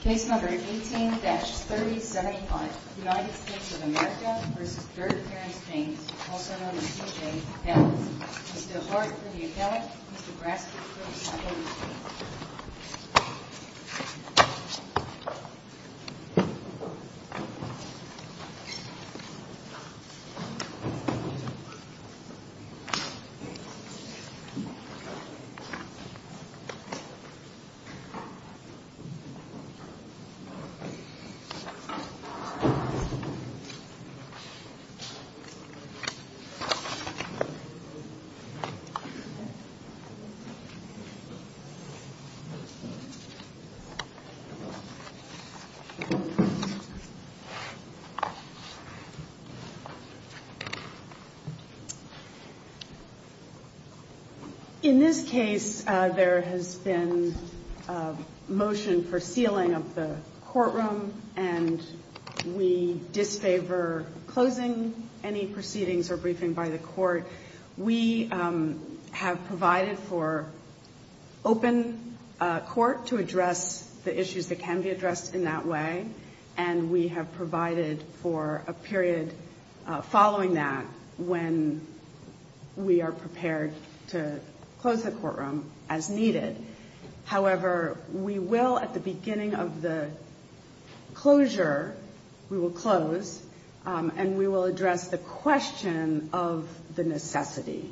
Case No. 18-3075, United States of America v. Dirk James James, also known as T.J. Ellis Mr. Arthur M. Ellis, Mr. Grassley, please come forward. In this case, there has been a motion for sealing of the courtroom, and we disfavor closing any proceedings or briefing by the court. We have provided for open court to address the issues that can be addressed in that way, and we have provided for a period following that when we are prepared to close the courtroom as needed. However, we will, at the beginning of the closure, we will close, and we will address the question of the necessity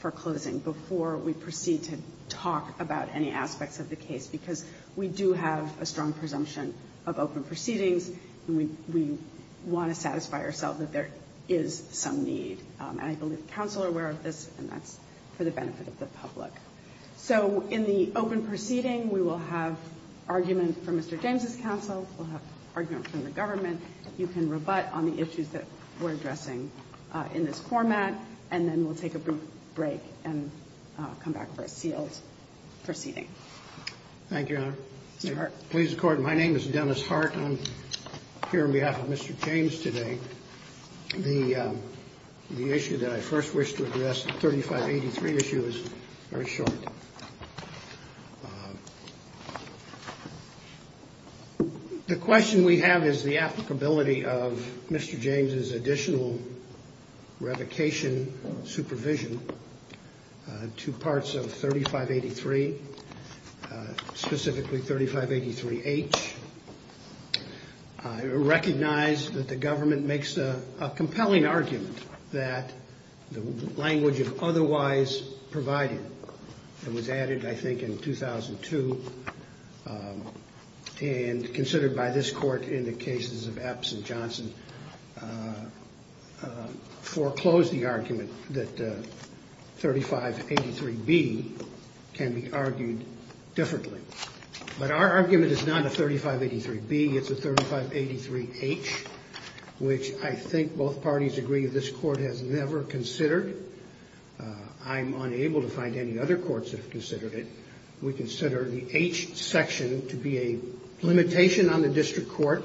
for closing before we proceed to talk about any aspects of the case, because we do have a strong presumption of open proceedings, and we want to satisfy ourselves that there is some need. And I believe the counsel are aware of this, and that's for the benefit of the public. So in the open proceeding, we will have argument from Mr. James' counsel. We'll have argument from the government. You can rebut on the issues that we're addressing in this format, and then we'll take a brief break and come back for a sealed proceeding. Thank you, Your Honor. Mr. Hart. Please, Your Honor. My name is Dennis Hart, and I'm here on behalf of Mr. James today. The issue that I first wish to address, the 3583 issue, is very short. The question we have is the applicability of Mr. James' additional revocation supervision to parts of 3583, specifically 3583H. I recognize that the government makes a compelling argument that the language of otherwise provided that was added, I think, in 2002, and considered by this Court in the cases of Epps and Johnson, foreclosed the argument that 3583B can be argued differently. But our argument is not a 3583B, it's a 3583H, which I think both parties agree this Court has never considered. I'm unable to find any other courts that have considered it. We consider the H section to be a limitation on the district court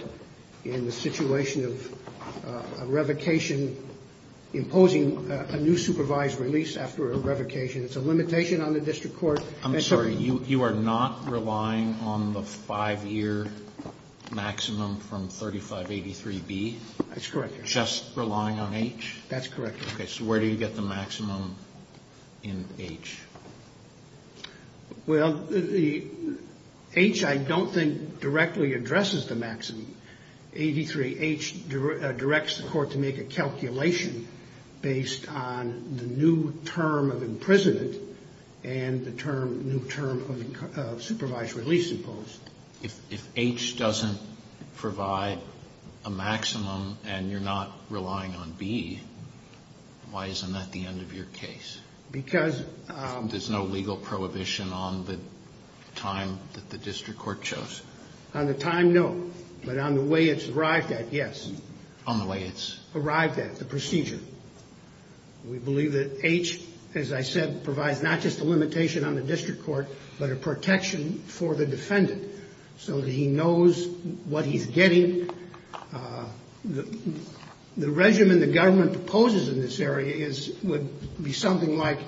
in the situation of a revocation imposing a new supervised release after a revocation. It's a limitation on the district court. I'm sorry. You are not relying on the 5-year maximum from 3583B? That's correct, Your Honor. Just relying on H? That's correct, Your Honor. Okay. So where do you get the maximum in H? Well, the H, I don't think, directly addresses the maximum. 83H directs the Court to make a calculation based on the new term of imprisonment and the new term of supervised release imposed. If H doesn't provide a maximum and you're not relying on B, why isn't that the end of your case? Because There's no legal prohibition on the time that the district court chose. On the time, no. But on the way it's arrived at, yes. On the way it's Arrived at, the procedure. We believe that H, as I said, provides not just a limitation on the district court, but a protection for the defendant so that he knows what he's getting. The regimen the government proposes in this area would be something like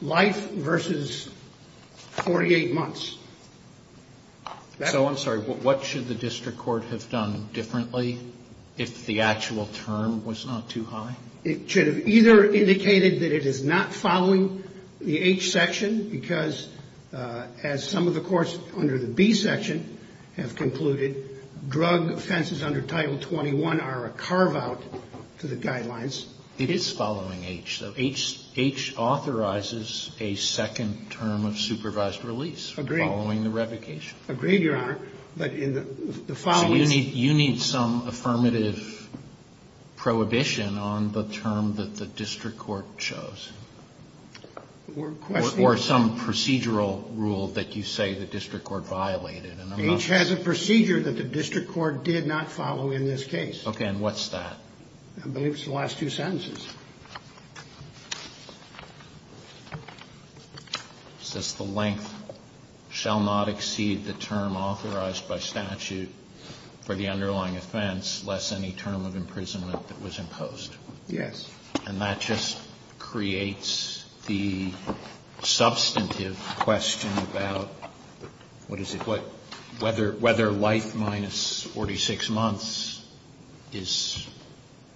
life versus 48 months. So, I'm sorry, what should the district court have done differently if the actual term was not too high? It should have either indicated that it is not following the H section, because as some of the courts under the B section have concluded, drug offenses under Title XXI are a carve-out to the guidelines. It is following H, though. H authorizes a second term of supervised release following the revocation. Agreed, Your Honor. But in the following So you need some affirmative prohibition on the term that the district court chose? Or some procedural rule that you say the district court violated? H has a procedure that the district court did not follow in this case. Okay, and what's that? I believe it's the last two sentences. It says, The length shall not exceed the term authorized by statute for the underlying offense less any term of imprisonment that was imposed. Yes. And that just creates the substantive question about, what is it? Whether life minus 46 months is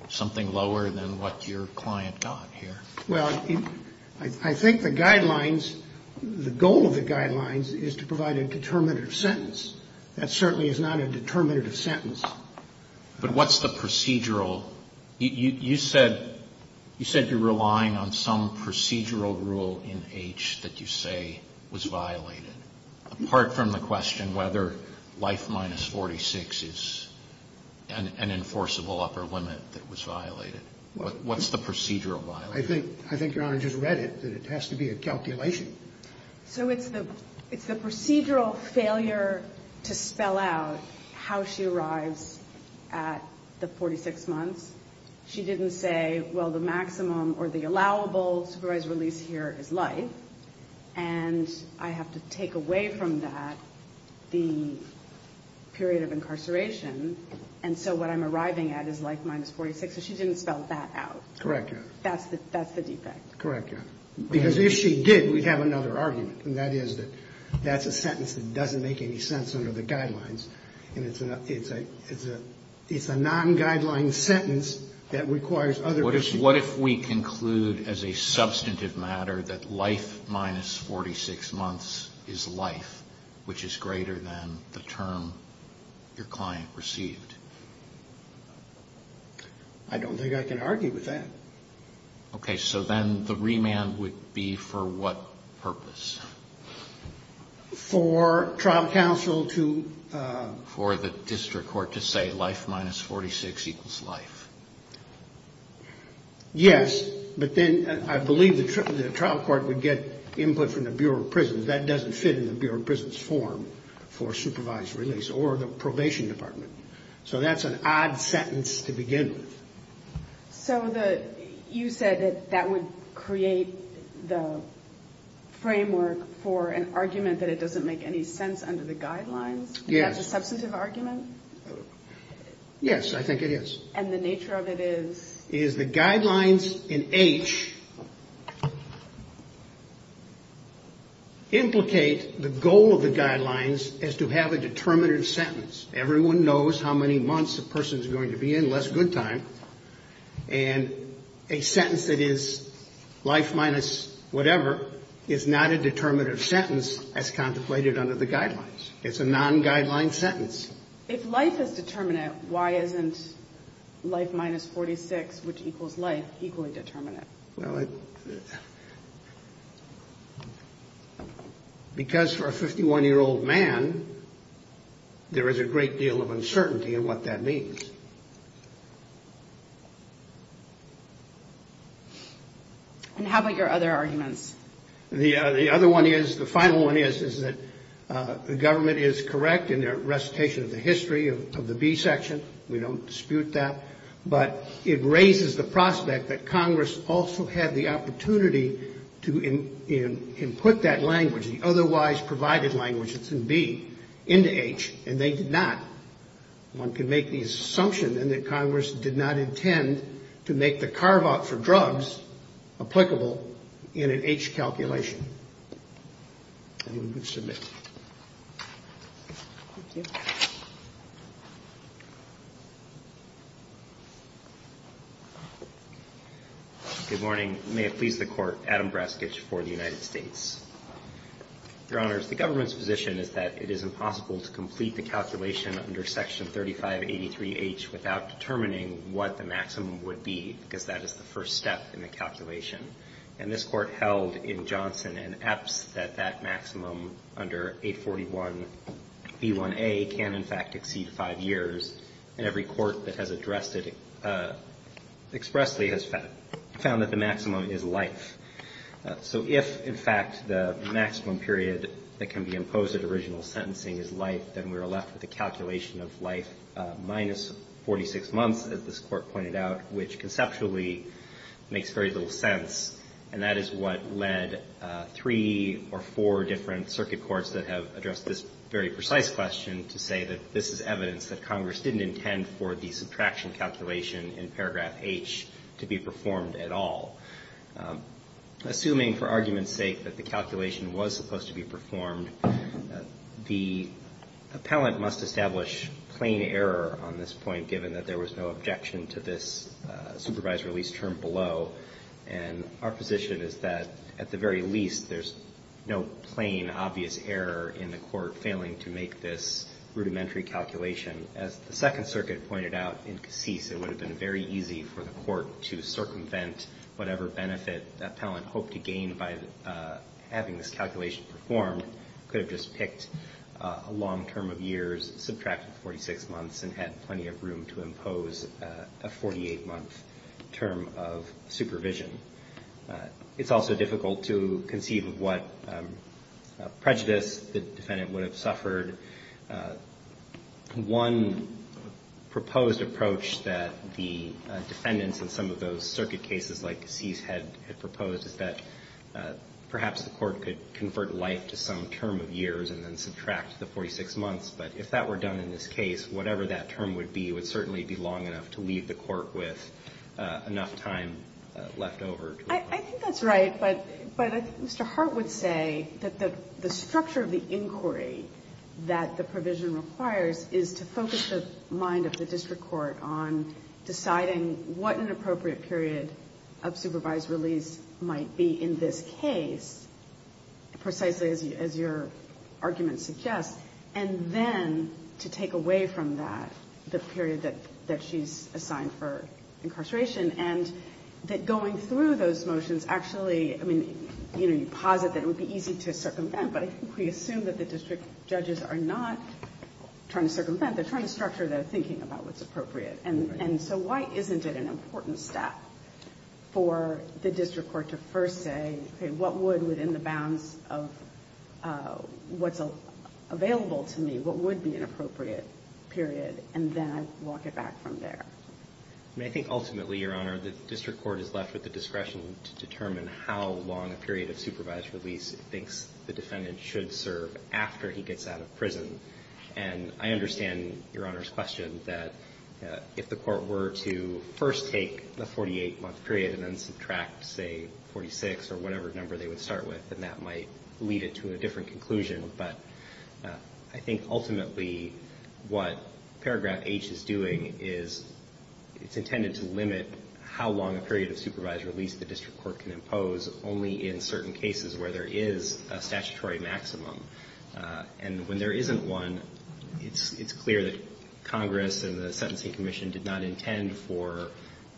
something lower than what your client got here. Well, I think the guidelines, the goal of the guidelines is to provide a determinative sentence. That certainly is not a determinative sentence. But what's the procedural? You said you're relying on some procedural rule in H that you say was violated. Apart from the question whether life minus 46 is an enforceable upper limit that was violated. What's the procedural violation? I think Your Honor just read it, that it has to be a calculation. So it's the procedural failure to spell out how she arrives at the 46 months She didn't say, well, the maximum or the allowable supervised release here is life. And I have to take away from that the period of incarceration. And so what I'm arriving at is life minus 46. So she didn't spell that out. Correct, Your Honor. That's the defect. Correct, Your Honor. Because if she did, we'd have another argument. And that is that that's a sentence that doesn't make any sense under the guidelines. And it's a non-guideline sentence that requires other issues. What if we conclude as a substantive matter that life minus 46 months is life, which is greater than the term your client received? I don't think I can argue with that. Okay. So then the remand would be for what purpose? For trial counsel to For the district court to say life minus 46 equals life. Yes. But then I believe the trial court would get input from the Bureau of Prisons. That doesn't fit in the Bureau of Prisons form for supervised release or the probation department. So that's an odd sentence to begin with. So you said that that would create the framework for an argument that it doesn't make any sense under the guidelines? Yes. Is that a substantive argument? Yes, I think it is. And the nature of it is? Is the guidelines in H implicate the goal of the guidelines is to have a determinative sentence. Everyone knows how many months a person is going to be in, less good time. And a sentence that is life minus whatever is not a determinative sentence as contemplated under the guidelines. It's a non-guideline sentence. If life is determinate, why isn't life minus 46, which equals life, equally determinate? Well, because for a 51-year-old man, there is a great deal of uncertainty in what that means. And how about your other arguments? The other one is, the final one is, is that the government is correct in their recitation of the history of the B section. We don't dispute that. But it raises the prospect that Congress also had the opportunity to input that language, the otherwise provided language, it's in B, into H, and they did not. One can make the assumption then that Congress did not intend to make the carve-out for drugs applicable in an H calculation. Anyone wish to submit? Thank you. Good morning. May it please the Court. Adam Braskich for the United States. Your Honors, the government's position is that it is impossible to complete the calculation under Section 3583H without determining what the maximum would be, because that is the first step in the calculation. And this Court held in Johnson and Epps that that maximum under 841B1A can, in fact, exceed five years. And every Court that has addressed it expressly has found that the maximum is life. So if, in fact, the maximum period that can be imposed at original sentencing is life, then we are left with a calculation of life minus 46 months, as this Court pointed out, which conceptually makes very little sense. And that is what led three or four different circuit courts that have addressed this very precise question to say that this is evidence that Congress didn't intend for the subtraction calculation in paragraph H to be performed at all. Assuming, for argument's sake, that the calculation was supposed to be performed, the appellant must establish plain error on this point, given that there was no objection to this supervised release term below. And our position is that, at the very least, there's no plain, obvious error in the Court failing to make this rudimentary calculation. As the Second Circuit pointed out in Cassis, it would have been very easy for the Court to circumvent whatever benefit the appellant hoped to gain by having this calculation performed. It could have just picked a long term of years, subtracted 46 months, and had plenty of room to impose a 48-month term of supervision. It's also difficult to conceive of what prejudice the defendant would have suffered. One proposed approach that the defendants in some of those circuit cases like Cassis had proposed is that perhaps the Court could convert life to some term of years and then subtract the 46 months. But if that were done in this case, whatever that term would be, it would certainly be long enough to leave the Court with enough time left over. I think that's right. But Mr. Hart would say that the structure of the inquiry that the provision requires is to focus the mind of the district court on deciding what an appropriate period of supervised release might be in this case, precisely as your argument suggests, and then to take away from that the period that she's assigned for incarceration. And that going through those motions actually, I mean, you know, you posit that it would be easy to circumvent, but I think we assume that the district judges are not trying to circumvent. They're trying to structure their thinking about what's appropriate. And so why isn't it an important step for the district court to first say, okay, what would, within the bounds of what's available to me, what would be an appropriate period, and then walk it back from there? I mean, I think ultimately, Your Honor, the district court is left with the discretion to determine how long a period of supervised release it thinks the defendant should serve after he gets out of prison. And I understand Your Honor's question that if the court were to first take the 48-month period and then subtract, say, 46 or whatever number they would start with, then that might lead it to a different conclusion. But I think ultimately what paragraph H is doing is it's intended to limit how long a period of supervised release the district court can impose only in certain cases where there is a statutory maximum. And when there isn't one, it's clear that Congress and the Sentencing Commission did not intend for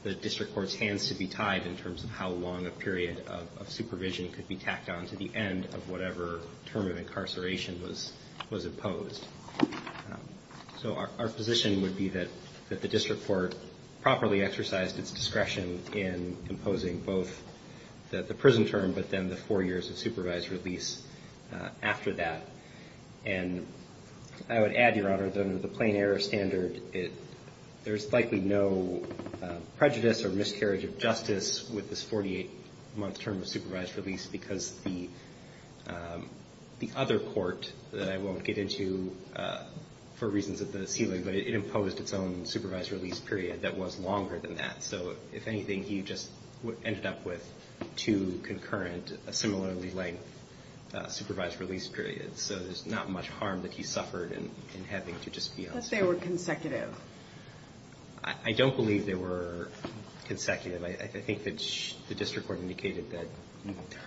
the district court's hands to be tied in terms of how long a period of supervision could be tacked on to the end of whatever term of incarceration was imposed. So our position would be that the district court properly exercised its discretion in imposing both the prison term but then the four years of supervised release after that. And I would add, Your Honor, that under the plain error standard, there's likely no prejudice or miscarriage of justice with this 48-month term of supervised release because the other court that I won't get into for reasons of the ceiling, but it imposed its own supervised release period that was longer than that. So if anything, he just ended up with two concurrent, similarly length, supervised release periods. So there's not much harm that he suffered in having to just be honest. But they were consecutive. I don't believe they were consecutive. I think that the district court indicated that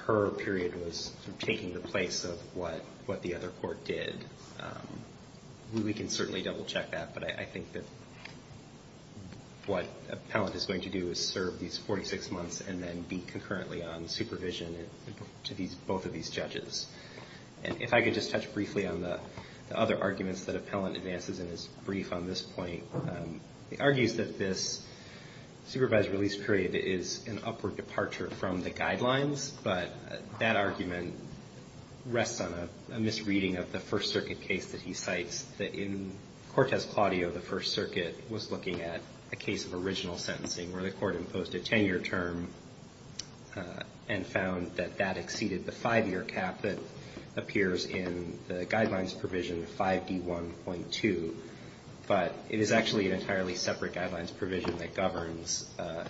her period was taking the place of what the other court did. We can certainly double-check that. But I think that what Appellant is going to do is serve these 46 months and then be concurrently on supervision to both of these judges. And if I could just touch briefly on the other arguments that Appellant advances in his brief on this point, he argues that this supervised release period is an upward departure from the guidelines. But that argument rests on a misreading of the First Circuit case that he cites, that in Cortez-Claudio, the First Circuit was looking at a case of original sentencing where the court imposed a 10-year term and found that that exceeded the 5-year cap that appears in the guidelines provision 5D1.2. But it is actually an entirely separate guidelines provision that governs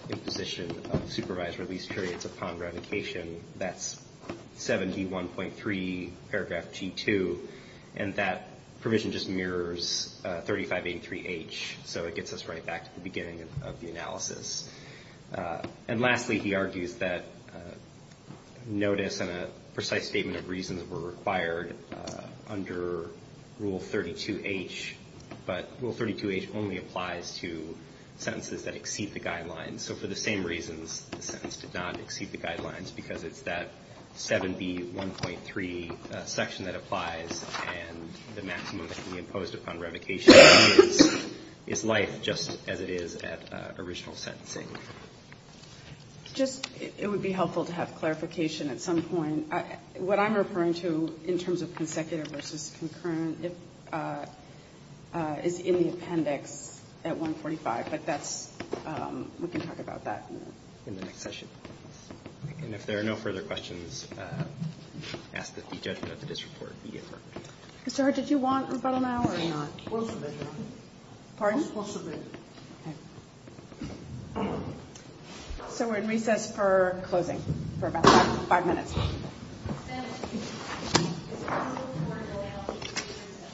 imposition of supervised release periods upon revocation. That's 7D1.3 paragraph G2. And that provision just mirrors 3583H. So it gets us right back to the beginning of the analysis. And lastly, he argues that notice and a precise statement of reasons were required under Rule 32H. But Rule 32H only applies to sentences that exceed the guidelines. So for the same reasons, the sentence did not exceed the guidelines because it's that 7B1.3 section that applies. And the maximum that can be imposed upon revocation is life just as it is at original sentencing. Just, it would be helpful to have clarification at some point. What I'm referring to in terms of consecutive versus concurrent is in the appendix at 145. But that's, we can talk about that in the next session. And if there are no further questions, ask that the judgment of the disreport be deferred. Mr. Hurd, did you want about an hour or not? We'll submit it. Pardon? We'll submit it. Okay. So we're in recess for closing for about five minutes. Thank you.